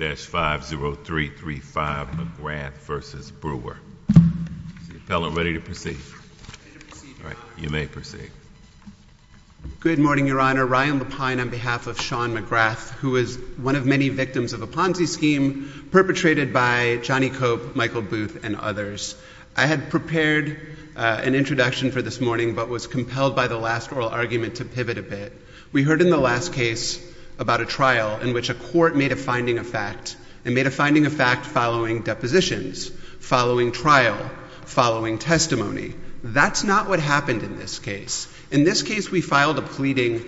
Is the appellant ready to proceed? I'm ready to proceed, Your Honor. You may proceed. Good morning, Your Honor. Ryan Lapine on behalf of Sean McGrath, who is one of many victims of a Ponzi scheme perpetrated by Johnny Cope, Michael Booth, and others. I had prepared an introduction for this morning but was compelled by the last oral argument to pivot a bit. We heard in the last case about a trial in which a court made a finding of fact and made a finding of fact following depositions, following trial, following testimony. That's not what happened in this case. In this case, we filed a pleading.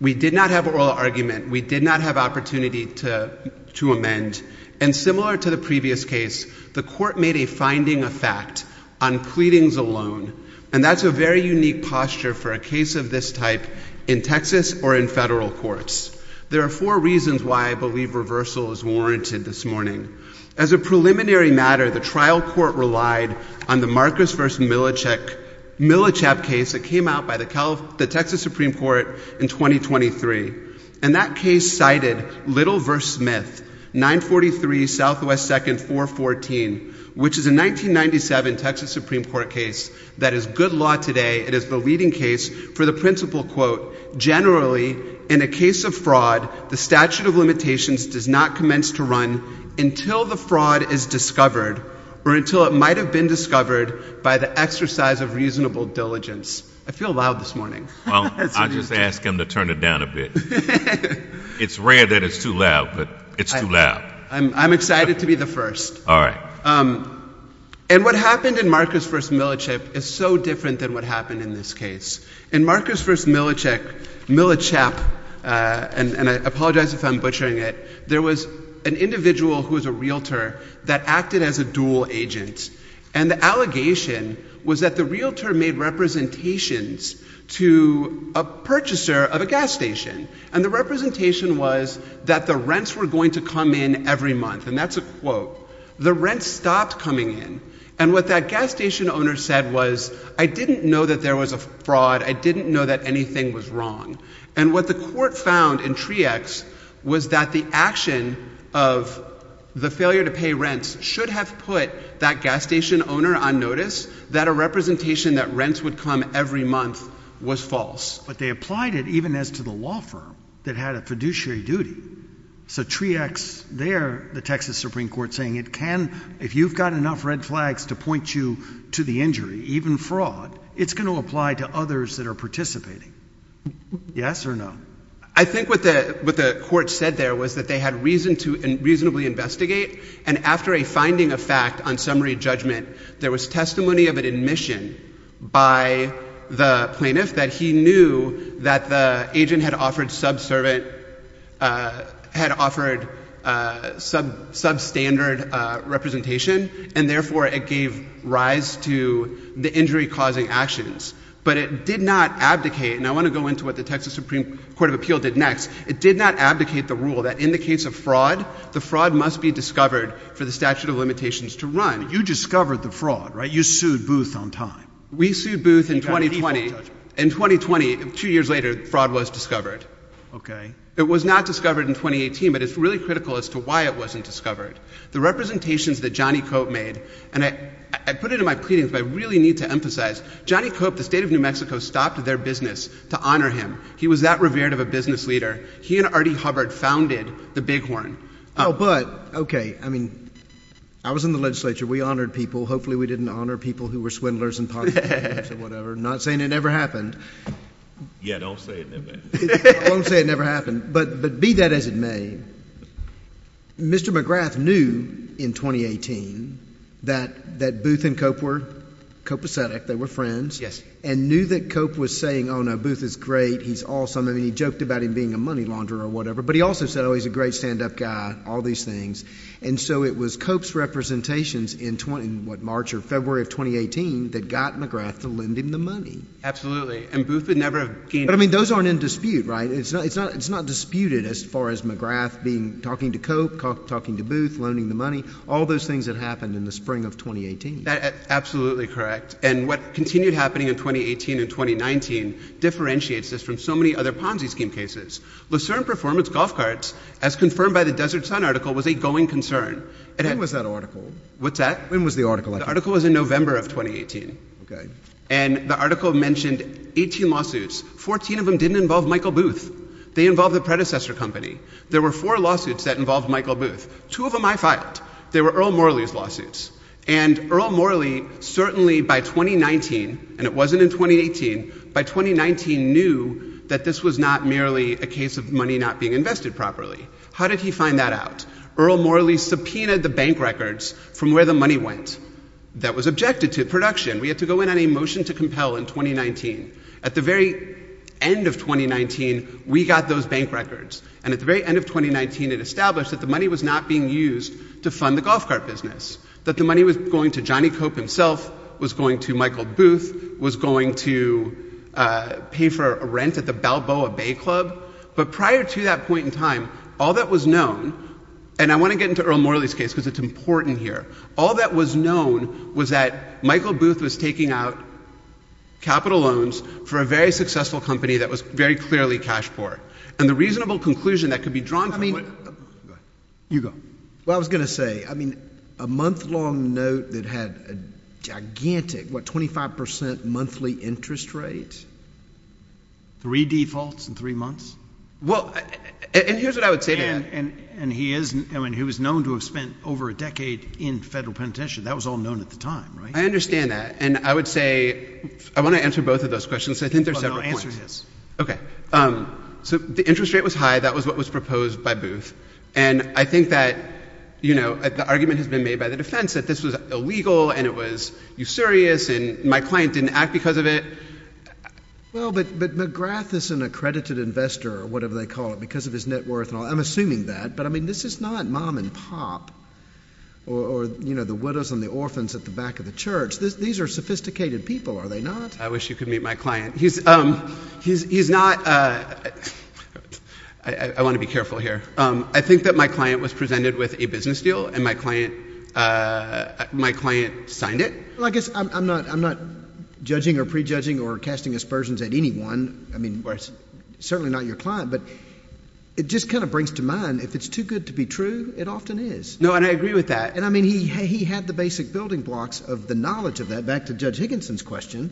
We did not have oral argument. We did not have opportunity to amend. And similar to the previous case, the court made a finding of fact on pleadings alone. And that's a very unique posture for a case of this type in Texas or in federal courts. There are four reasons why I believe reversal is warranted this morning. As a preliminary matter, the trial court relied on the Marcus v. Millichap case that came out by the Texas Supreme Court in 2023. And that case cited Little v. Smith, 943 Southwest 2nd 414, which is a 1997 Texas Supreme Court case that is good law today. It is the leading case for the principle, quote, generally, in a case of fraud, the statute of limitations does not commence to run until the fraud is discovered or until it might have been discovered by the exercise of reasonable diligence. I feel loud this morning. Well, I'll just ask him to turn it down a bit. It's rare that it's too loud, but it's too loud. I'm excited to be the first. All right. And what happened in Marcus v. Millichap is so different than what happened in this case. In Marcus v. Millichap, and I apologize if I'm butchering it, there was an individual who was a realtor that acted as a dual agent. And the allegation was that the realtor made representations to a purchaser of a gas station. And the representation was that the rents were going to come in every month. And that's a quote. The rents stopped coming in. And what that gas station owner said was, I didn't know that there was a fraud. I didn't know that anything was wrong. And what the court found in TREEx was that the action of the failure to pay rents should have put that gas station owner on notice that a representation that rents would come every month was false. But they applied it even as to the law firm that had a fiduciary duty. So TREEx there, the Texas Supreme Court saying, it can, if you've got enough red flags to point you to the injury, even fraud, it's going to apply to others that are participating. Yes or no? I think what the court said there was that they had reason to reasonably investigate. And after a finding of fact on summary judgment, there was testimony of an admission by the plaintiff that he knew that the agent had offered subservient, had offered substandard representation. And therefore, it gave rise to the injury-causing actions. But it did not abdicate. And I want to go into what the Texas Supreme Court of Appeal did next. It did not abdicate the rule that indicates a fraud. The fraud must be discovered for the statute of limitations to run. You discovered the fraud, right? You sued Booth on time. We sued Booth in 2020. In 2020, two years later, fraud was discovered. OK. It was not discovered in 2018, but it's really critical as to why it wasn't discovered. The representations that Johnny Cope made, and I put it in my pleadings, but I really need to emphasize, Johnny Cope, the state of New Mexico, stopped their business to honor him. He was that revered of a business leader. He and Artie Hubbard founded the Bighorn. Oh, but, OK. I mean, I was in the legislature. We honored people. Hopefully, we didn't honor people who were swindlers and potheads and whatever. I'm not saying it never happened. Yeah, don't say it never happened. I won't say it never happened, but be that as it may, Mr. McGrath knew in 2018 that Booth and Cope were copacetic. They were friends and knew that Cope was saying, oh, no, Booth is great. He's awesome. I mean, he joked about him being a money launderer or whatever, but he also said, oh, he's a great stand-up guy, all these things, and so it was Cope's representations in what, March or February of 2018 that got McGrath to lend him the money. Absolutely, and Booth would never have gained it. But, I mean, those aren't in dispute, right? It's not disputed as far as McGrath talking to Cope, talking to Booth, loaning the money, all those things that happened in the spring of 2018. Absolutely correct. And what continued happening in 2018 and 2019 differentiates this from so many other Ponzi scheme cases. Lucerne Performance Golf Carts, as confirmed by the Desert Sun article, was a going concern. When was that article? What's that? When was the article? The article was in November of 2018. Okay. And the article mentioned 18 lawsuits. 14 of them didn't involve Michael Booth. They involved the predecessor company. There were four lawsuits that involved Michael Booth. Two of them I filed. They were Earl Morley's lawsuits. And Earl Morley certainly, by 2019, and it wasn't in 2018, by 2019 knew that this was not merely a case of money not being invested properly. How did he find that out? Earl Morley subpoenaed the bank records from where the money went that was objected to production. We had to go in on a motion to compel in 2019. At the very end of 2019, we got those bank records. And at the very end of 2019, it established that the money was not being used to fund the golf cart business, that the money was going to Johnny Cope himself, was going to Michael Booth, was going to pay for a rent at the Balboa Bay Club. But prior to that point in time, all that was known, and I want to get into Earl Morley's case because it's important here. All that was known was that Michael Booth was taking out capital loans for a very successful company that was very clearly cash poor. And the reasonable conclusion that could be drawn from it— Go ahead. You go. Well, I was going to say, I mean, a month-long note that had a gigantic, what, 25% monthly interest rate? Three defaults in three months? Well, and here's what I would say to that. And he is—I mean, he was known to have spent over a decade in federal penitentiary. That was all known at the time, right? I understand that. And I would say—I want to answer both of those questions. I think there's several points. Well, no, answer his. Okay. So the interest rate was high. That was what was proposed by Booth. And I think that, you know, the argument has been made by the defense that this was illegal and it was usurious and my client didn't act because of it. Well, but McGrath is an accredited investor or whatever they call it, because of his net worth. I'm assuming that. But, I mean, this is not mom and pop or, you know, the widows and the orphans at the back of the church. These are sophisticated people, are they not? I wish you could meet my client. He's not—I want to be careful here. I think that my client was presented with a business deal and my client signed it. Well, I guess I'm not judging or prejudging or casting aspersions at anyone. I mean, certainly not your client, but it just kind of brings to mind if it's too good to be true, it often is. No, and I agree with that. And, I mean, he had the basic building blocks of the knowledge of that. Back to Judge Higginson's question,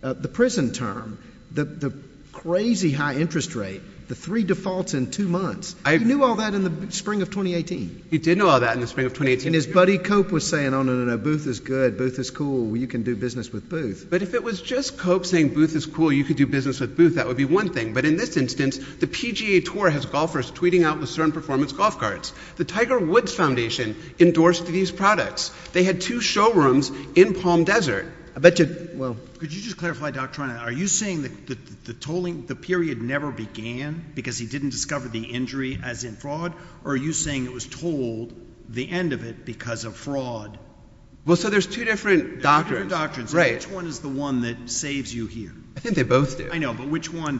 the prison term, the crazy high interest rate, the three defaults in two months. He knew all that in the spring of 2018. He did know all that in the spring of 2018. And his buddy, Cope, was saying, oh, no, no, no, Booth is good. Booth is cool. You can do business with Booth. But if it was just Cope saying Booth is cool, you could do business with Booth, that would be one thing. But in this instance, the PGA Tour has golfers tweeting out with certain performance golf cards. The Tiger Woods Foundation endorsed these products. They had two showrooms in Palm Desert. I bet you— Well, could you just clarify, Dr. Ryan, are you saying that the period never began because he didn't discover the injury, as in fraud, or are you saying it was told, the end of it, because of fraud? Well, so there's two different doctrines. Two different doctrines. Right. Which one is the one that saves you here? I think they both do. I know. But which one—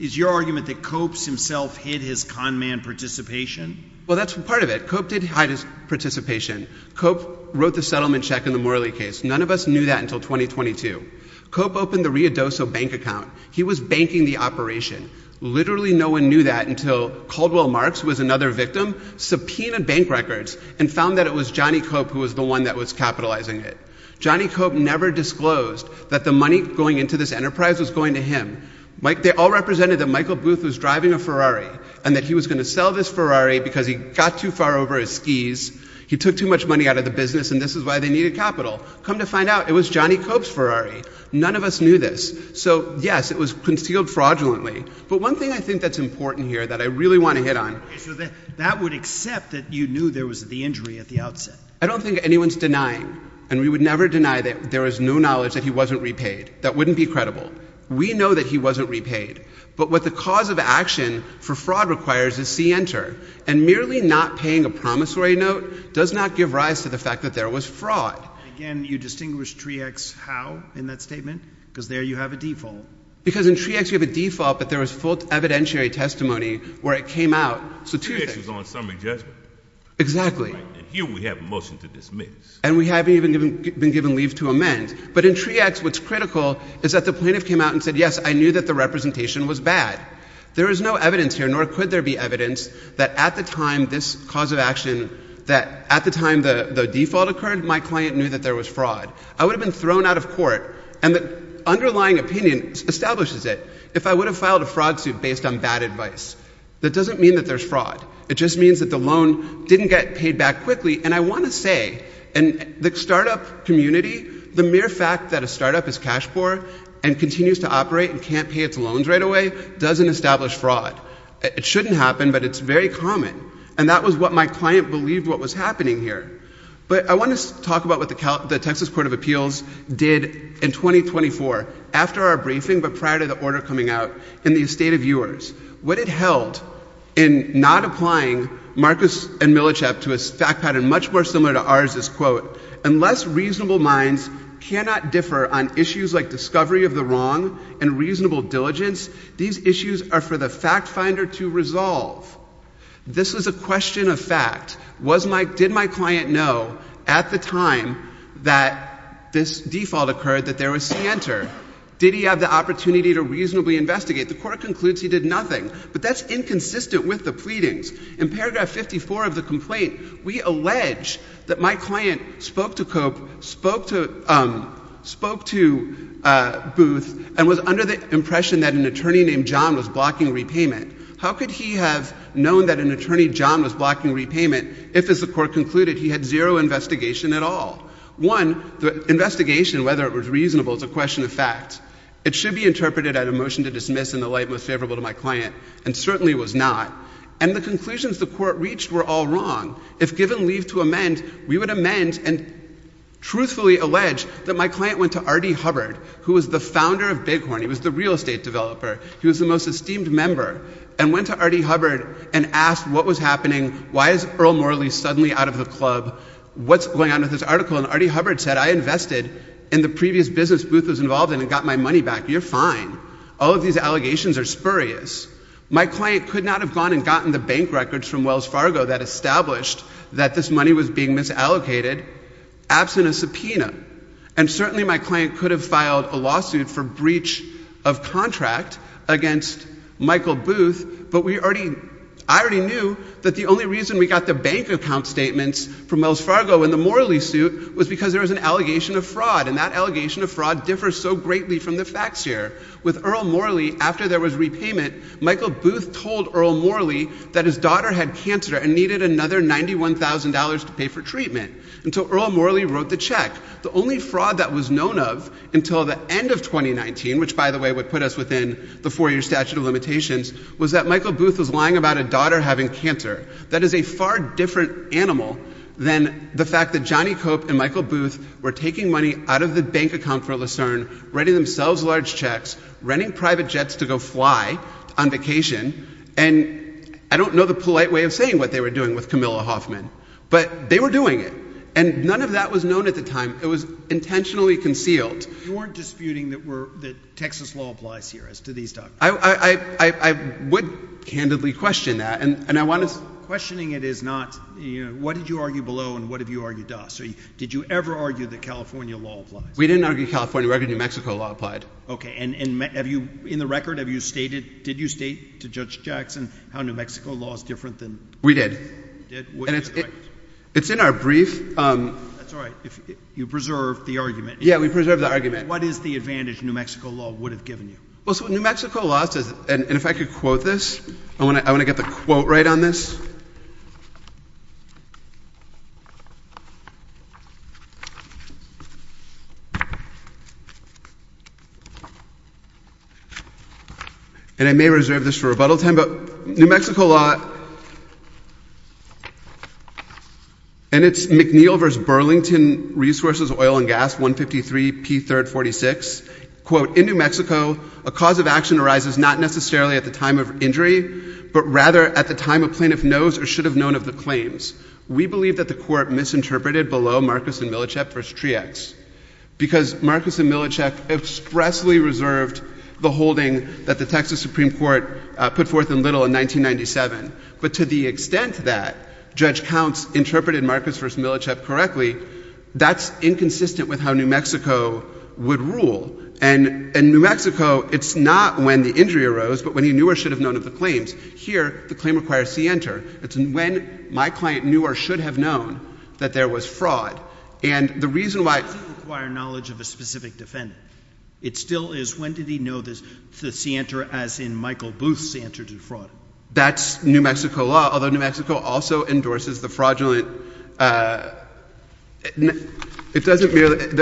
Is your argument that Cope himself hid his con man participation? Well, that's part of it. Cope did hide his participation. Cope wrote the settlement check in the Morley case. None of us knew that until 2022. Cope opened the Rio Doso bank account. He was banking the operation. Literally no one knew that until Caldwell Marks, who was another victim, subpoenaed bank records and found that it was Johnny Cope who was the one that was capitalizing it. Johnny Cope never disclosed that the money going into this enterprise was going to him. They all represented that Michael Booth was driving a Ferrari and that he was going to sell this Ferrari because he got too far over his skis, he took too much money out of the business, and this is why they needed capital. Come to find out, it was Johnny Cope's Ferrari. None of us knew this. So, yes, it was concealed fraudulently. But one thing I think that's important here that I really want to hit on... Okay, so that would accept that you knew there was the injury at the outset. I don't think anyone's denying, and we would never deny that there was no knowledge that he wasn't repaid. That wouldn't be credible. We know that he wasn't repaid. But what the cause of action for fraud requires is C-enter. And merely not paying a promissory note does not give rise to the fact that there was fraud. And again, you distinguish Treax Howe in that statement because there you have a default. Because in Treax, you have a default, but there was full evidentiary testimony where it came out. Treax was on summary judgment. Exactly. And here we have a motion to dismiss. And we haven't even been given leave to amend. But in Treax, what's critical is that the plaintiff came out and said, yes, I knew that the representation was bad. There is no evidence here, nor could there be evidence that at the time this cause of action, that at the time the default occurred, my client knew that there was fraud. I would have been thrown out of court and the underlying opinion establishes it. If I would have filed a fraud suit based on bad advice, that doesn't mean that there's fraud. It just means that the loan didn't get paid back quickly. And I want to say, in the startup community, the mere fact that a startup is cash poor and continues to operate and can't pay its loans right away doesn't establish fraud. It shouldn't happen, but it's very common. And that was what my client believed what was happening here. But I want to talk about what the Texas Court of Appeals did in 2024, after our briefing, but prior to the order coming out, in the estate of yours. What it held in not applying Marcus and Milichap to a fact pattern much more similar to ours is, quote, unless reasonable minds cannot differ on issues like discovery of the wrong and reasonable diligence, these issues are for the fact finder to resolve. This is a question of fact. Did my client know at the time that this default occurred that there was center? Did he have the opportunity to reasonably investigate? The court concludes he did nothing, but that's inconsistent with the pleadings. In paragraph 54 of the complaint, we allege that my client spoke to Cope, spoke to Booth, and was under the impression that an attorney named John was blocking repayment. How could he have known that an attorney named John was blocking repayment if, as the court concluded, he had zero investigation at all? One, the investigation, whether it was reasonable, is a question of fact. It should be interpreted as a motion to dismiss in the light most favorable to my client, and certainly was not. And the conclusions the court reached were all wrong. If given leave to amend, we would amend and truthfully allege that my client went to Artie Hubbard, who was the founder of Bighorn, he was the real estate developer, he was the most esteemed member, and went to Artie Hubbard and asked what was happening. Why is Earl Morley suddenly out of the club? What's going on with this article? And Artie Hubbard said, I invested in the previous business Booth was involved in and got my money back. You're fine. All of these allegations are spurious. My client could not have gone and gotten the bank records from Wells Fargo that established that this money was being misallocated absent a subpoena. And certainly my client could have filed a lawsuit for breach of contract against Michael Booth, but I already knew that the only reason we got the bank account statements from Wells Fargo in the Morley suit was because there was an allegation of fraud and that allegation of fraud differs so greatly from the facts here. With Earl Morley, after there was repayment, Michael Booth told Earl Morley that his daughter had cancer and needed another $91,000 to pay for treatment until Earl Morley wrote the check. The only fraud that was known of until the end of 2019, which by the way would put us within the four-year statute of limitations, was that Michael Booth was lying about a daughter having cancer. That is a far different animal than the fact that Johnny Cope and Michael Booth were taking money out of the bank account for Lucerne, writing themselves large checks, renting private jets to go fly on vacation, and I don't know the polite way of saying what they were doing with Camilla Hoffman, but they were doing it. And none of that was known at the time. It was intentionally concealed. You weren't disputing that Texas law applies here as to these documents? I would candidly question that, and I want to... Questioning it is not, what did you argue below and what have you argued thus? Did you ever argue that California law applies? We didn't argue California law. We argued New Mexico law applied. Okay, and in the record, did you state to Judge Jackson how New Mexico law is different than... We did. You did? And it's in our brief. That's all right. You preserved the argument. Yeah, we preserved the argument. What is the advantage New Mexico law would have given you? Well, so New Mexico law... And if I could quote this, I want to get the quote right on this. And I may reserve this for rebuttal time, but New Mexico law... And it's McNeil v. Burlington Resources Oil and Gas, 153 P. 3rd 46, quote, In New Mexico, a cause of action arises not necessarily at the time of injury, but rather at the time a plaintiff knows or should have known of the claims. We believe that the court misinterpreted below Marcus and Milicep v. Triax because Marcus and Milicep expressly reserved the holding that the Texas Supreme Court put forth in Little in 1997. But to the extent that Judge Counts interpreted Marcus v. Milicep correctly, that's inconsistent with how New Mexico would rule. And in New Mexico, it's not when the injury arose, but when he knew or should have known of the claims. Here, the claim requires scienter. It's when my client knew or should have known that there was fraud. And the reason why... It doesn't require knowledge of a specific defendant. It still is, when did he know the scienter as in Michael Booth's scienter to fraud? That's New Mexico law, although New Mexico also endorses the fraudulent... The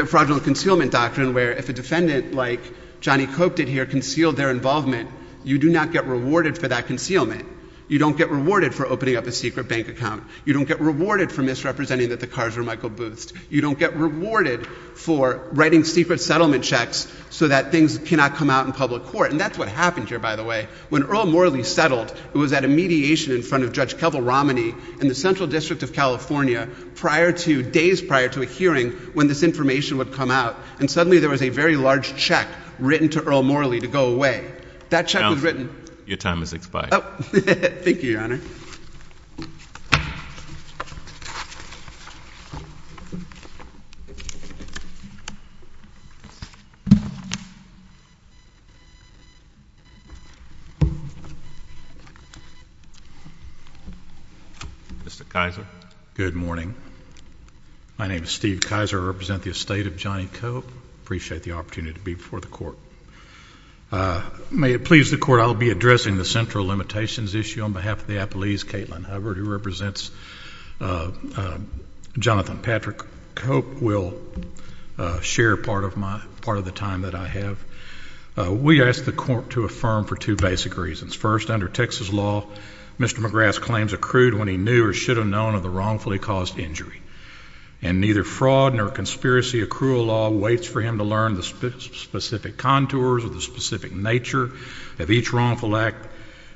fraudulent concealment doctrine where if a defendant like Johnny Cope did here conceal their involvement, you do not get rewarded for that concealment. You don't get rewarded for opening up a secret bank account. You don't get rewarded for misrepresenting that the cars were Michael Booth's. You don't get rewarded for writing secret settlement checks so that things cannot come out in public court. And that's what happened here, by the way. When Earl Morley settled, it was at a mediation in front of Judge Kevel Romney in the Central District of California days prior to a hearing when this information would come out. And suddenly there was a very large check written to Earl Morley to go away. That check was written... Your time has expired. Thank you, Your Honor. Mr. Kaiser. Good morning. My name is Steve Kaiser. I represent the estate of Johnny Cope. I appreciate the opportunity to be before the court. May it please the court, I'll be addressing the central limitations issue. On behalf of the appellees, Caitlin Hubbard, who represents Jonathan Patrick Cope, will share part of the time that I have. We ask the court to affirm for two basic reasons. First, under Texas law, Mr. McGrath's claims accrued when he knew or should have known of the wrongfully caused injury. And neither fraud nor conspiracy accrual law waits for him to learn the specific contours or the specific nature of each wrongful act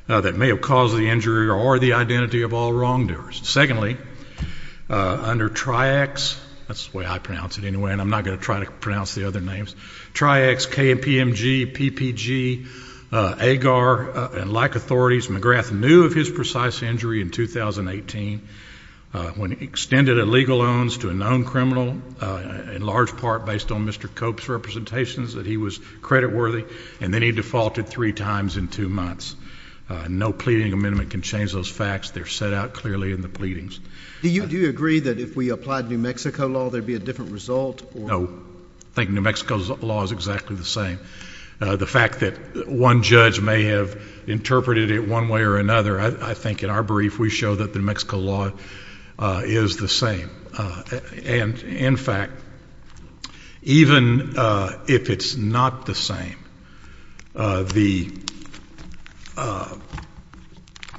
that may have caused the injury or the identity of all wrongdoers. Secondly, under TRIACS, that's the way I pronounce it anyway and I'm not going to try to pronounce the other names, TRIACS, KPMG, PPG, AGAR, and like authorities, McGrath knew of his precise injury in 2018. When he extended illegal loans to a known criminal, in large part based on Mr. Cope's representations, that he was credit worthy and then he defaulted three times in two months. No pleading amendment can change those facts. They're set out clearly in the pleadings. Do you agree that if we applied New Mexico law there'd be a different result? No. I think New Mexico's law is exactly the same. The fact that one judge may have interpreted it one way or another, I think in our brief we show that the New Mexico law is the same. And in fact, even if it's not the same, it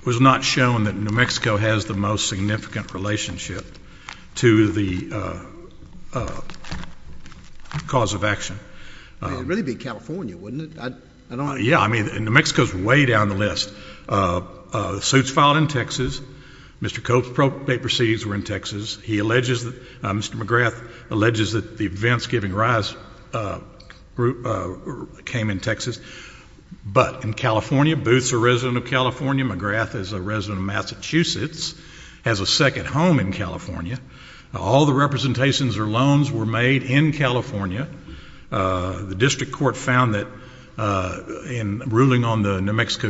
was not shown that New Mexico has the most significant relationship to the cause of action. It'd really be California, wouldn't it? Yeah, I mean, New Mexico's way down the list. The suit's filed in Texas. Mr. Cope's paper seeds were in Texas. Mr. McGrath alleges that the events giving rise came in Texas. But in California, Booth's a resident of California, McGrath is a resident of Massachusetts, has a second home in California. All the representations or loans were made in California. The district court found that in ruling on the New Mexico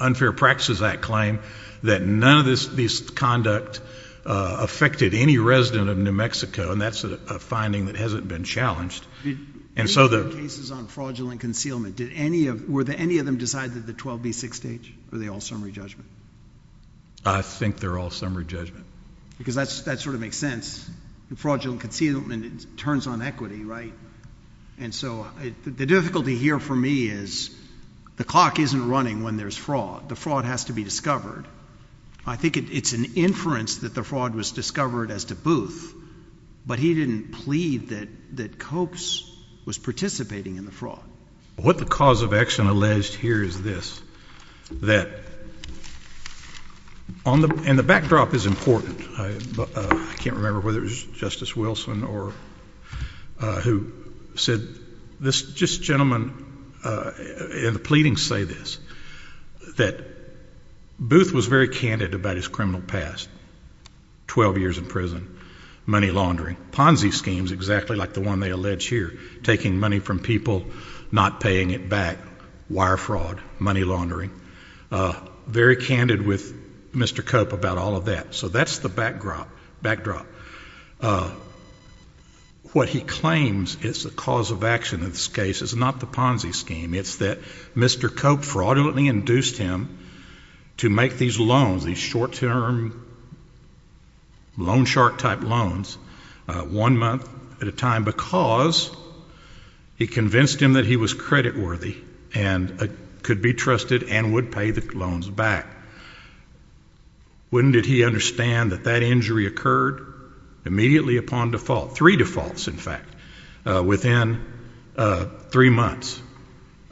Unfair Practices Act claim that none of these conduct affected any resident of New Mexico, and that's a finding that hasn't been challenged. And so the... ...cases on fraudulent concealment, were any of them decided at the 12B6 stage? Or are they all summary judgment? I think they're all summary judgment. Because that sort of makes sense. Fraudulent concealment turns on equity, right? And so the difficulty here for me is the clock isn't running when there's fraud. The fraud has to be discovered. I think it's an inference that the fraud was discovered as to Booth, but he didn't plead that Copes was participating in the fraud. What the cause of action alleged here is this, that... ...and the backdrop is important. I can't remember whether it was Justice Wilson or... ...who said, this gentleman in the pleading say this, that Booth was very candid about his criminal past, 12 years in prison, money laundering, Ponzi schemes, exactly like the one they allege here, taking money from people, not paying it back, wire fraud, money laundering, very candid with Mr. Cope about all of that. So that's the backdrop. What he claims is the cause of action in this case is not the Ponzi scheme. It's that Mr. Cope fraudulently induced him to make these loans, these short-term loan shark type loans, one month at a time, because he convinced him that he was creditworthy and could be trusted and would pay the loans back. When did he understand that that injury occurred? Immediately upon default. Three defaults, in fact. Within three months.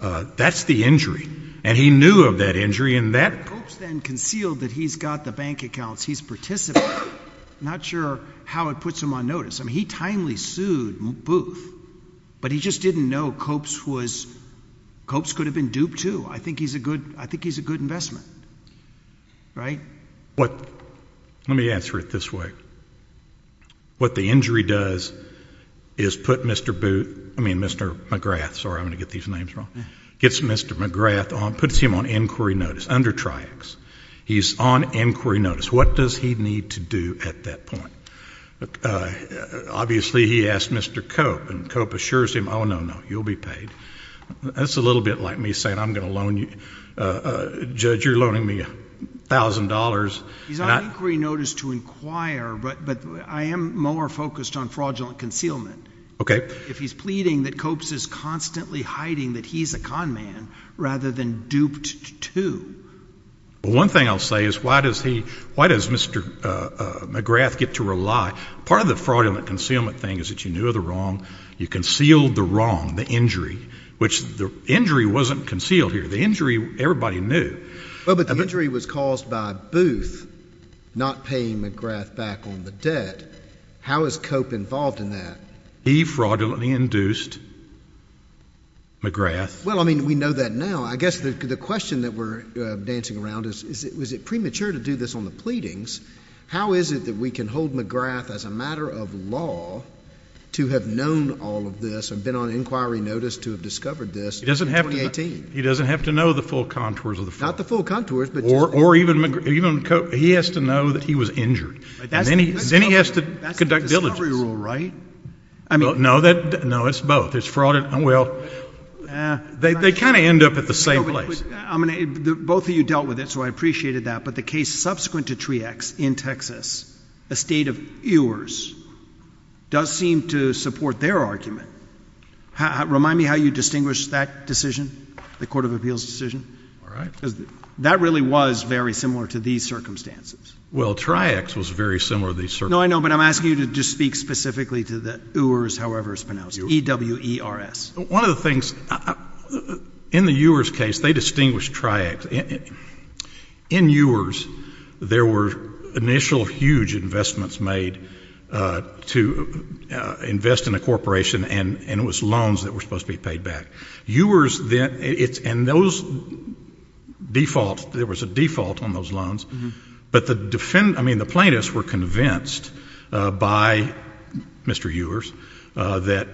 That's the injury. And he knew of that injury. Cope's then concealed that he's got the bank accounts. He's participating. Not sure how it puts him on notice. I mean, he timely sued Booth, but he just didn't know Cope's could have been duped too. I think he's a good investment. Right? Let me answer it this way. What the injury does is put Mr. Booth, I mean, Mr. McGrath. Sorry, I'm going to get these names wrong. Gets Mr. McGrath on, puts him on inquiry notice under Triax. He's on inquiry notice. What does he need to do at that point? Obviously, he asked Mr. Cope, and Cope assures him, oh, no, no, you'll be paid. That's a little bit like me saying, I'm going to loan you, Judge, you're loaning me $1,000. He's on inquiry notice to inquire, but I am more focused on fraudulent concealment. If he's pleading that Cope's is constantly hiding that he's a con man rather than duped too. One thing I'll say is, why does he, why does Mr. McGrath get to rely? Part of the fraudulent concealment thing is that you knew of the wrong, you concealed the wrong, the injury, which the injury wasn't concealed here. The injury, everybody knew. But the injury was caused by Booth not paying McGrath back on the debt. How is Cope involved in that? He fraudulently induced McGrath. Well, I mean, we know that now. I guess the question that we're dancing around is, is it premature to do this on the pleadings? How is it that we can hold McGrath as a matter of law to have known all of this and been on inquiry notice to have discovered this in 2018? He doesn't have to know the full contours of the fraud. Not the full contours, but just... Or even Cope, he has to know that he was injured. Then he has to conduct diligence. That's the discovery rule, right? No, it's both. It's fraud and... Well, they kind of end up at the same place. Both of you dealt with it, so I appreciated that. But the case subsequent to Triax in Texas, a state of ewers, does seem to support their argument. Remind me how you distinguished that decision, the Court of Appeals decision? Because that really was very similar to these circumstances. Well, Triax was very similar to these circumstances. No, I know, but I'm asking you to just speak specifically to the ewers, however it's pronounced. E-W-E-R-S. One of the things... In the ewers case, they distinguished Triax. In ewers, there were initial huge investments made to invest in a corporation, and it was loans that were supposed to be paid back. Ewers, then, it's... And those defaults, there was a default on those loans, but the plaintiffs were convinced by Mr. Ewers that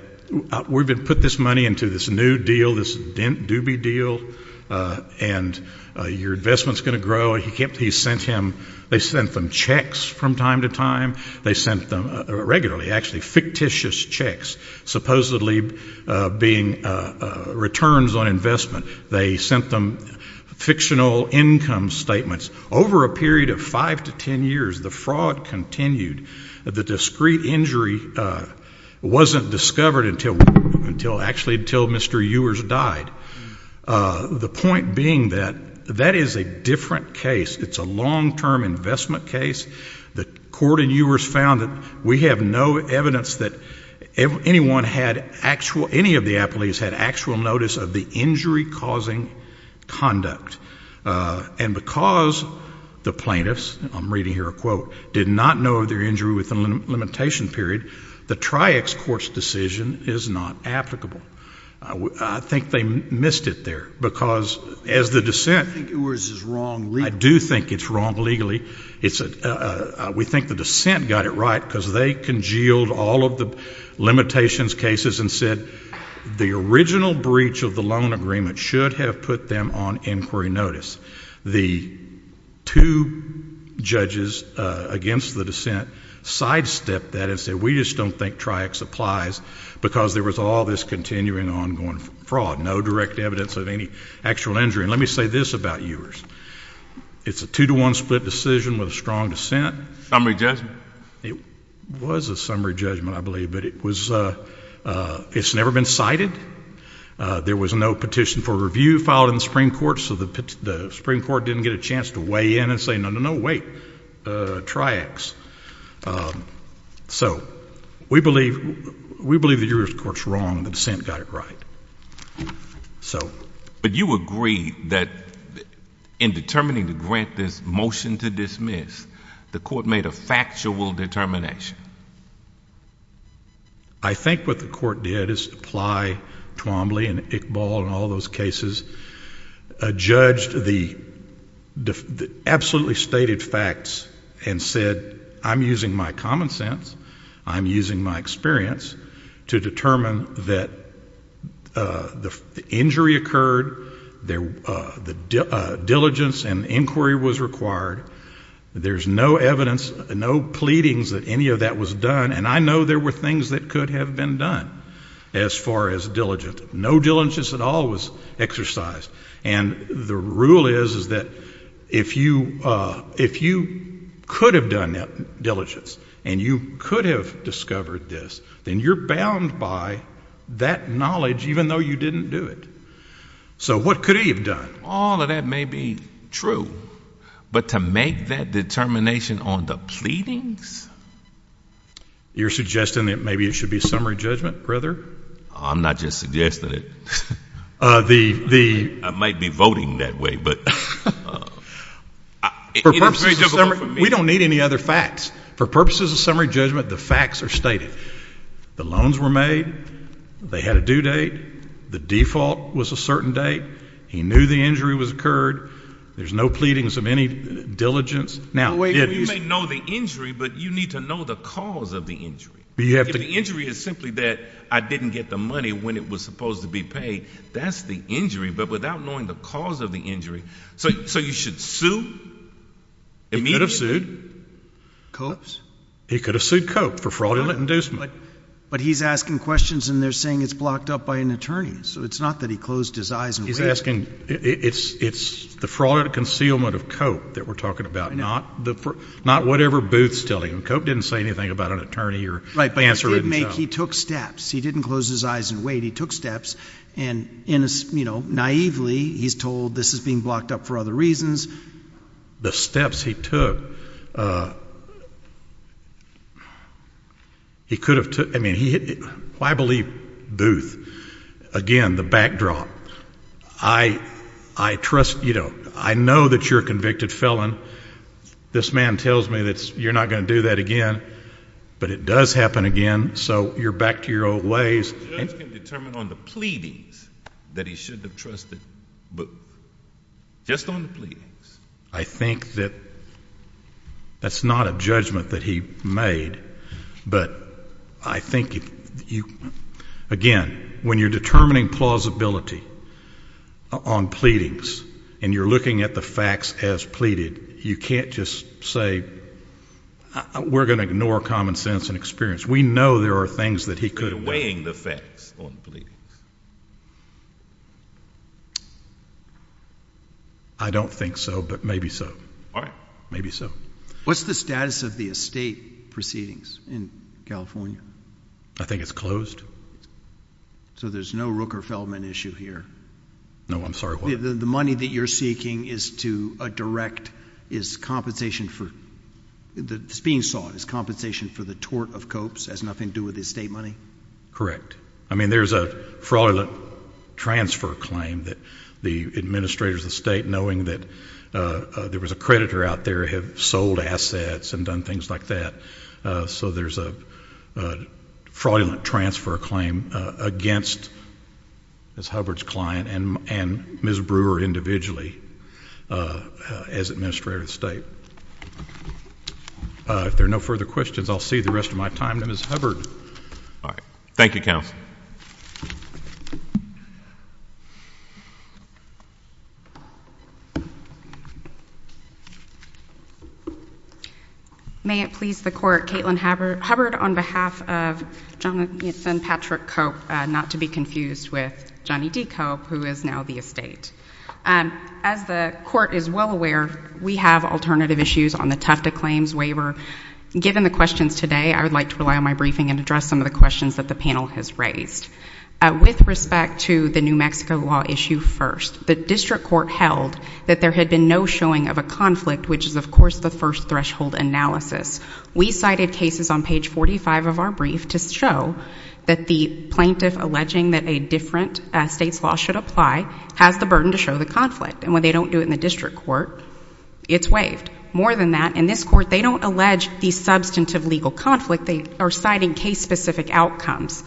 we've put this money into this new deal, this doobie deal, and your investment's going to grow. They sent them checks from time to time. They sent them regularly, actually fictitious checks, supposedly being returns on investment. They sent them fictional income statements over a period of 5 to 10 years. The fraud continued. The discreet injury wasn't discovered actually until Mr. Ewers died. The point being that that is a different case. It's a long-term investment case. The court in ewers found that we have no evidence that any of the appellees had actual notice of the injury-causing conduct. And because the plaintiffs, I'm reading here a quote, did not know of their injury within a limitation period, the tri-ex courts' decision is not applicable. I think they missed it there, because as the dissent... I think Ewers is wrong legally. I do think it's wrong legally. We think the dissent got it right because they congealed all of the limitations cases and said the original breach of the loan agreement should have put them on inquiry notice. The two judges against the dissent sidestepped that and said we just don't think tri-ex applies because there was all this continuing ongoing fraud, no direct evidence of any actual injury. And let me say this about Ewers. It's a 2-to-1 split decision with a strong dissent. Summary judgment. It was a summary judgment, I believe, but it's never been cited. There was no petition for review filed in the Supreme Court, so the Supreme Court didn't get a chance to weigh in and say no, no, no, wait, tri-ex. So we believe that Ewers' court's wrong and the dissent got it right. But you agree that in determining to grant this motion to dismiss, the court made a factual determination. In fact, I think what the court did is apply Twombly and Iqbal and all those cases, judged the absolutely stated facts and said I'm using my common sense, I'm using my experience to determine that the injury occurred, the diligence and inquiry was required, there's no evidence, no pleadings that any of that was done, and I know there were things that could have been done as far as diligent. No diligence at all was exercised. And the rule is that if you could have done that diligence and you could have discovered this, then you're bound by that knowledge even though you didn't do it. So what could he have done? All of that may be true, but to make that determination on the pleadings? You're suggesting that maybe it should be a summary judgment, brother? I'm not just suggesting it. I might be voting that way, but... We don't need any other facts. For purposes of summary judgment, the facts are stated. The loans were made. They had a due date. The default was a certain date. He knew the injury was occurred. There's no pleadings of any diligence. You may know the injury, but you need to know the cause of the injury. If the injury is simply that I didn't get the money when it was supposed to be paid, that's the injury, but without knowing the cause of the injury. So you should sue immediately. He could have sued. Copes? He could have sued Cope for fraudulent inducement. But he's asking questions and they're saying it's blocked up by an attorney, so it's not that he closed his eyes and waited. He's asking, it's the fraud and concealment of Cope that we're talking about, not whatever Booth's telling him. Cope didn't say anything about an attorney or answer it himself. He did make, he took steps. He didn't close his eyes and wait. He took steps, and naively he's told this is being blocked up for other reasons. The steps he took, he could have took, I mean, I believe Booth. Again, the backdrop. I trust, you know, I know that you're a convicted felon. This man tells me that you're not going to do that again. But it does happen again, so you're back to your old ways. The judge can determine on the pleadings that he should have trusted Booth. Just on the pleadings. I think that that's not a judgment that he made. But I think, again, when you're determining plausibility on pleadings and you're looking at the facts as pleaded, you can't just say, we're going to ignore common sense and experience. We know there are things that he could have done. You're weighing the facts on the pleadings. I don't think so, but maybe so. All right. Maybe so. What's the status of the estate proceedings in California? I think it's closed. So there's no Rooker-Feldman issue here? No, I'm sorry, what? The money that you're seeking is to direct, is compensation for, it's being sought, is compensation for the tort of copes, has nothing to do with the estate money? Correct. I mean, there's a fraudulent transfer claim that the administrators of the state, knowing that there was a creditor out there, have sold assets and done things like that. So there's a fraudulent transfer claim against Ms. Hubbard's client and Ms. Brewer individually as administrator of the state. If there are no further questions, I'll see you the rest of my time. Ms. Hubbard. All right. Thank you, Counsel. May it please the Court, Caitlin Hubbard on behalf of Jonathan Patrick Cope, not to be confused with Johnny D. Cope, who is now the estate. As the Court is well aware, we have alternative issues on the Tufta claims waiver. Given the questions today, I would like to rely on my briefing and address some of the questions that the panel has raised. With respect to the New Mexico law issue first, the district court held that there had been no showing of a conflict, which is, of course, the first threshold analysis. We cited cases on page 45 of our brief to show that the plaintiff alleging that a different state's law should apply has the burden to show the conflict. And when they don't do it in the district court, it's waived. More than that, in this court, they don't allege the substantive legal conflict. They are citing case-specific outcomes.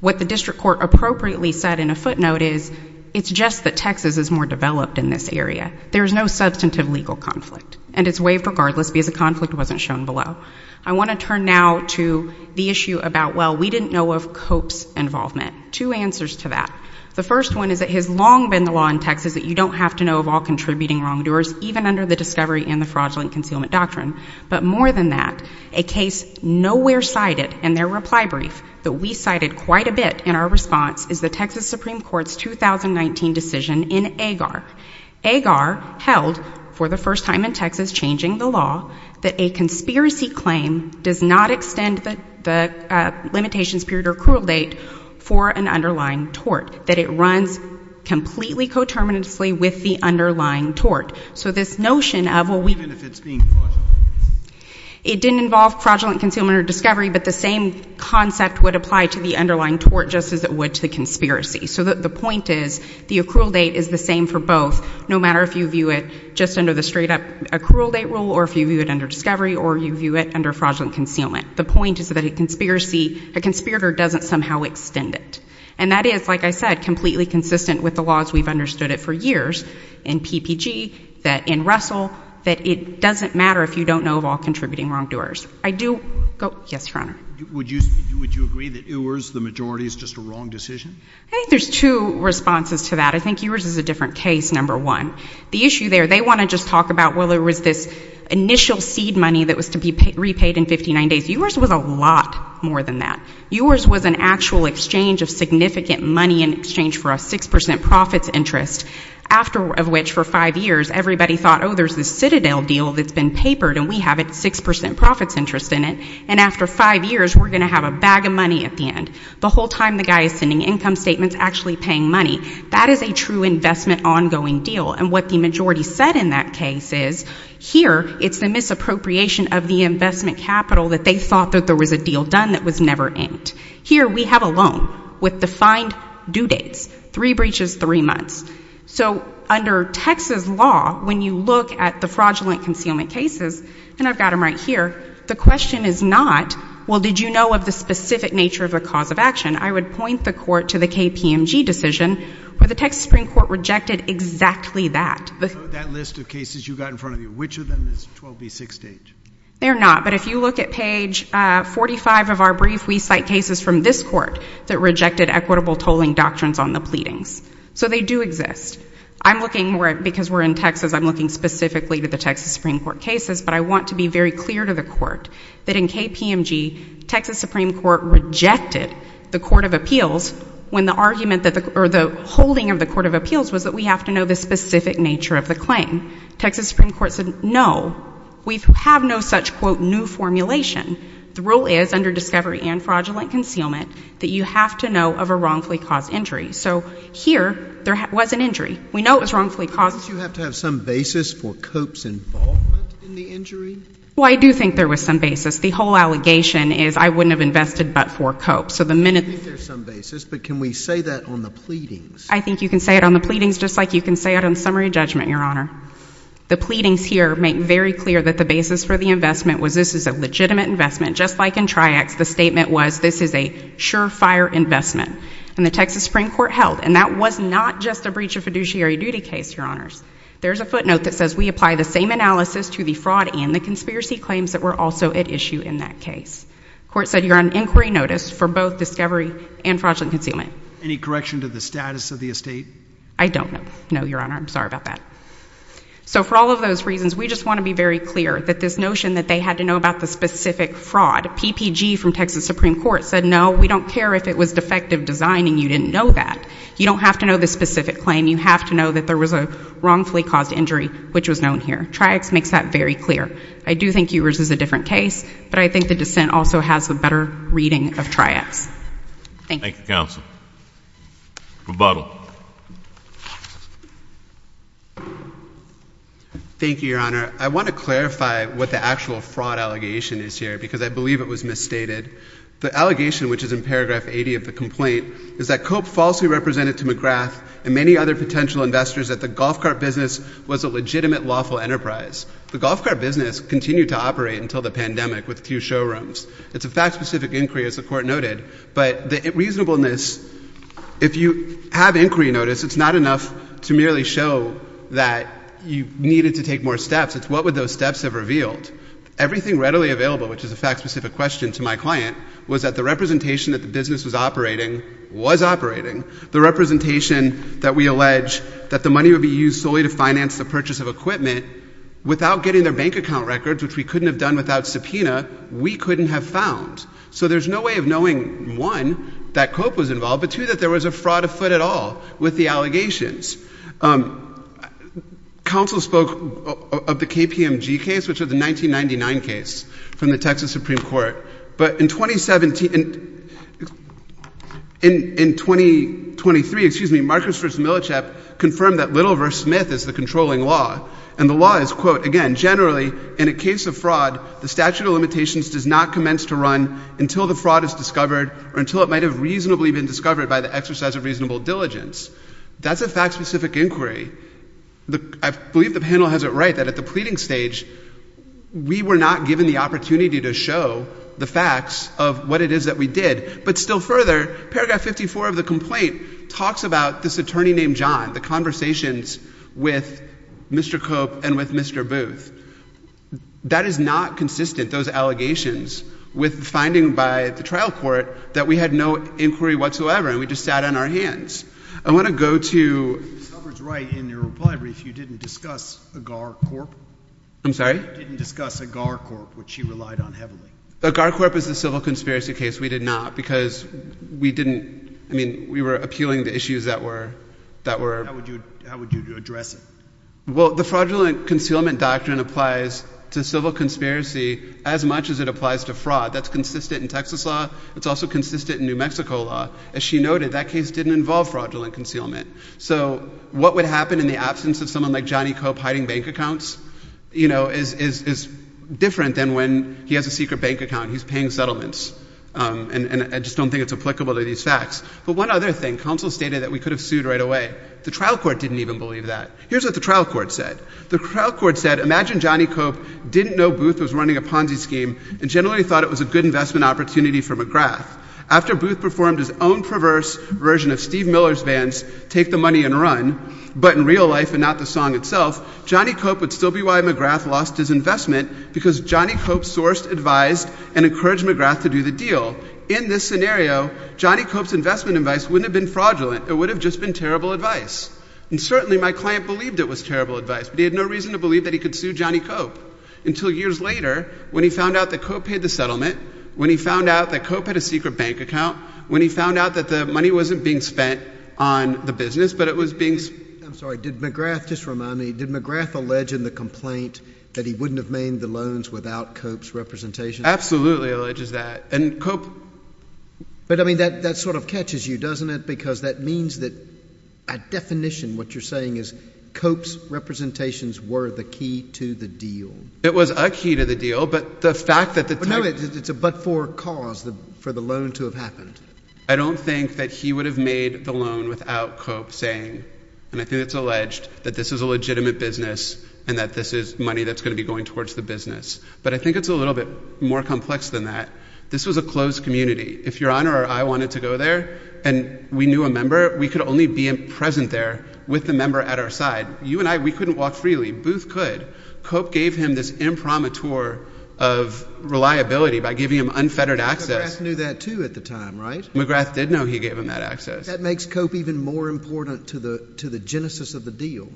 What the district court appropriately said in a footnote is, it's just that Texas is more developed in this area. There is no substantive legal conflict, and it's waived regardless because the conflict wasn't shown below. I want to turn now to the issue about, well, we didn't know of Cope's involvement. Two answers to that. The first one is that it has long been the law in Texas that you don't have to know of all contributing wrongdoers, even under the discovery and the fraudulent concealment doctrine. But more than that, a case nowhere cited in their reply brief that we cited quite a bit in our response is the Texas Supreme Court's 2019 decision in Agar. Agar held, for the first time in Texas, changing the law, that a conspiracy claim does not extend the limitations period or accrual date for an underlying tort, that it runs completely coterminously with the underlying tort. So this notion of, well, we... Even if it's being fraudulent? It didn't involve fraudulent concealment or discovery, but the same concept would apply to the underlying tort just as it would to the conspiracy. So the point is, the accrual date is the same for both, no matter if you view it just under the straight-up accrual date rule, or if you view it under discovery, or you view it under fraudulent concealment. The point is that a conspiracy, a conspirator doesn't somehow extend it. And that is, like I said, completely consistent with the laws we've understood it for years in PPG, that in Russell, that it doesn't matter if you don't know of all contributing wrongdoers. I do... Yes, Your Honor. Would you agree that yours, the majority, is just a wrong decision? I think there's two responses to that. I think yours is a different case, number one. The issue there, they want to just talk about, well, there was this initial seed money that was to be repaid in 59 days. Yours was a lot more than that. Yours was an actual exchange of significant money in exchange for a 6 percent profits interest, after which, for five years, everybody thought, oh, there's this Citadel deal that's been papered, and we have a 6 percent profits interest in it, and after five years we're going to have a bag of money at the end. The whole time the guy is sending income statements, actually paying money. That is a true investment ongoing deal. And what the majority said in that case is, here it's the misappropriation of the investment capital that they thought that there was a deal done that was never aimed. Here we have a loan with defined due dates, three breaches, three months. So under Texas law, when you look at the fraudulent concealment cases, and I've got them right here, the question is not, well, did you know of the specific nature of the cause of action? I would point the court to the KPMG decision, where the Texas Supreme Court rejected exactly that. That list of cases you've got in front of you, which of them is 12B68? They're not. But if you look at page 45 of our brief, we cite cases from this court that rejected equitable tolling doctrines on the pleadings. So they do exist. I'm looking, because we're in Texas, I'm looking specifically to the Texas Supreme Court cases, but I want to be very clear to the court that in KPMG, Texas Supreme Court rejected the Court of Appeals when the argument or the holding of the Court of Appeals was that we have to know the specific nature of the claim. Texas Supreme Court said no. We have no such, quote, new formulation. The rule is, under discovery and fraudulent concealment, that you have to know of a wrongfully caused injury. So here, there was an injury. We know it was wrongfully caused. Don't you have to have some basis for Cope's involvement in the injury? Well, I do think there was some basis. The whole allegation is I wouldn't have invested but for Cope. I think there's some basis, but can we say that on the pleadings? I think you can say it on the pleadings just like you can say it on summary judgment, Your Honor. The pleadings here make very clear that the basis for the investment was this is a legitimate investment. Just like in Triax, the statement was this is a sure-fire investment. And the Texas Supreme Court held, and that was not just a breach of fiduciary duty case, Your Honors. There's a footnote that says we apply the same analysis to the fraud and the conspiracy claims that were also at issue in that case. The court said you're on inquiry notice for both discovery and fraudulent concealment. Any correction to the status of the estate? I don't know. No, Your Honor. I'm sorry about that. So for all of those reasons, we just want to be very clear that this notion that they had to know about the specific fraud. PPG from Texas Supreme Court said no, we don't care if it was defective design and you didn't know that. You don't have to know the specific claim. You have to know that there was a wrongfully caused injury, which was known here. Triax makes that very clear. I do think yours is a different case, but I think the dissent also has a better reading of Triax. Thank you. Thank you, counsel. Rebuttal. Thank you, Your Honor. I want to clarify what the actual fraud allegation is here because I believe it was misstated. The allegation, which is in paragraph 80 of the complaint, is that Cope falsely represented to McGrath and many other potential investors that the golf cart business was a legitimate lawful enterprise. The golf cart business continued to operate until the pandemic with a few showrooms. It's a fact-specific inquiry, as the Court noted, but the reasonableness, if you have inquiry notice, it's not enough to merely show that you needed to take more steps. It's what would those steps have revealed. Everything readily available, which is a fact-specific question to my client, was that the representation that the business was operating was operating. The representation that we allege that the money would be used solely to finance the purchase of equipment, without getting their bank account records, which we couldn't have done without subpoena, we couldn't have found. So there's no way of knowing, one, that Cope was involved, but two, that there was a fraud afoot at all with the allegations. Counsel spoke of the KPMG case, which was a 1999 case from the Texas Supreme Court. But in 2017, in 2023, Marcus Versch Millichap confirmed that Little v. Smith is the controlling law. And the law is, quote, again, generally, in a case of fraud, the statute of limitations does not commence to run until the fraud is discovered or until it might have reasonably been discovered by the exercise of reasonable diligence. That's a fact-specific inquiry. I believe the panel has it right that at the pleading stage, we were not given the opportunity to show the facts of what it is that we did. But still further, paragraph 54 of the complaint talks about this attorney named John, the conversations with Mr. Cope and with Mr. Booth. That is not consistent, those allegations, with the finding by the trial court that we had no inquiry whatsoever and we just sat on our hands. I want to go to— Mr. Hubbard is right in your reply brief. You didn't discuss AgarCorp. I'm sorry? You didn't discuss AgarCorp, which you relied on heavily. AgarCorp is a civil conspiracy case. We did not because we didn't—I mean, we were appealing to issues that were— How would you address it? Well, the fraudulent concealment doctrine applies to civil conspiracy as much as it applies to fraud. That's consistent in Texas law. It's also consistent in New Mexico law. As she noted, that case didn't involve fraudulent concealment. So what would happen in the absence of someone like Johnny Cope hiding bank accounts, is different than when he has a secret bank account. He's paying settlements. And I just don't think it's applicable to these facts. But one other thing. Counsel stated that we could have sued right away. The trial court didn't even believe that. Here's what the trial court said. The trial court said, Imagine Johnny Cope didn't know Booth was running a Ponzi scheme and generally thought it was a good investment opportunity for McGrath. After Booth performed his own perverse version of Steve Miller's bands, Take the Money and Run, but in real life and not the song itself, Johnny Cope would still be why McGrath lost his investment because Johnny Cope sourced, advised, and encouraged McGrath to do the deal. In this scenario, Johnny Cope's investment advice wouldn't have been fraudulent. It would have just been terrible advice. And certainly my client believed it was terrible advice, but he had no reason to believe that he could sue Johnny Cope. Until years later, when he found out that Cope paid the settlement, when he found out that Cope had a secret bank account, when he found out that the money wasn't being spent on the business, but it was being— I'm sorry, did McGrath—just remind me, did McGrath allege in the complaint that he wouldn't have made the loans without Cope's representation? Absolutely alleges that. And Cope— But, I mean, that sort of catches you, doesn't it? Because that means that, by definition, what you're saying is Cope's representations were the key to the deal. It was a key to the deal, but the fact that the— But no, it's a but-for cause for the loan to have happened. I don't think that he would have made the loan without Cope saying, and I think it's alleged, that this is a legitimate business and that this is money that's going to be going towards the business. But I think it's a little bit more complex than that. This was a closed community. If Your Honor or I wanted to go there and we knew a member, we could only be present there with the member at our side. You and I, we couldn't walk freely. Booth could. Cope gave him this impromptu tour of reliability by giving him unfettered access. McGrath knew that, too, at the time, right? McGrath did know he gave him that access. That makes Cope even more important to the genesis of the deal.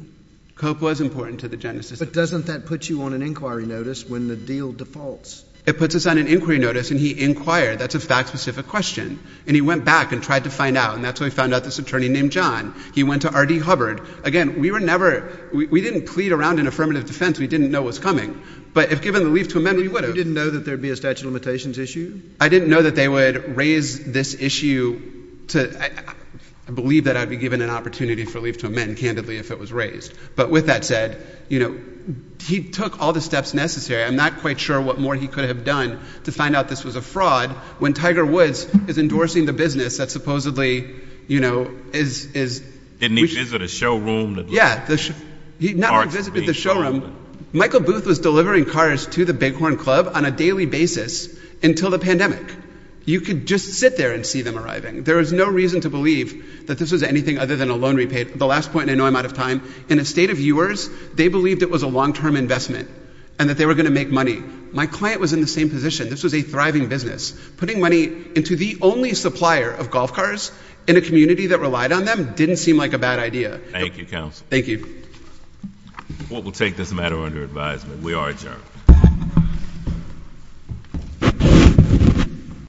Cope was important to the genesis of the deal. But doesn't that put you on an inquiry notice when the deal defaults? It puts us on an inquiry notice, and he inquired. That's a fact-specific question. And he went back and tried to find out, and that's when he found out this attorney named John. He went to R.D. Hubbard. Again, we were never—we didn't plead around in affirmative defense. We didn't know what was coming. But if given the leave to amend, we would have. You didn't know that there would be a statute of limitations issue? I didn't know that they would raise this issue to—I believe that I'd be given an opportunity for leave to amend, candidly, if it was raised. But with that said, you know, he took all the steps necessary. I'm not quite sure what more he could have done to find out this was a fraud when Tiger Woods is endorsing the business that supposedly, you know, is— Didn't he visit a showroom? Yeah. He not only visited the showroom. Michael Booth was delivering cars to the Bighorn Club on a daily basis until the pandemic. You could just sit there and see them arriving. There is no reason to believe that this was anything other than a loan repayment. The last point, and I know I'm out of time. In a state of yours, they believed it was a long-term investment and that they were going to make money. My client was in the same position. This was a thriving business. Putting money into the only supplier of golf cars in a community that relied on them didn't seem like a bad idea. Thank you, counsel. Thank you. The court will take this matter under advisement. We are adjourned.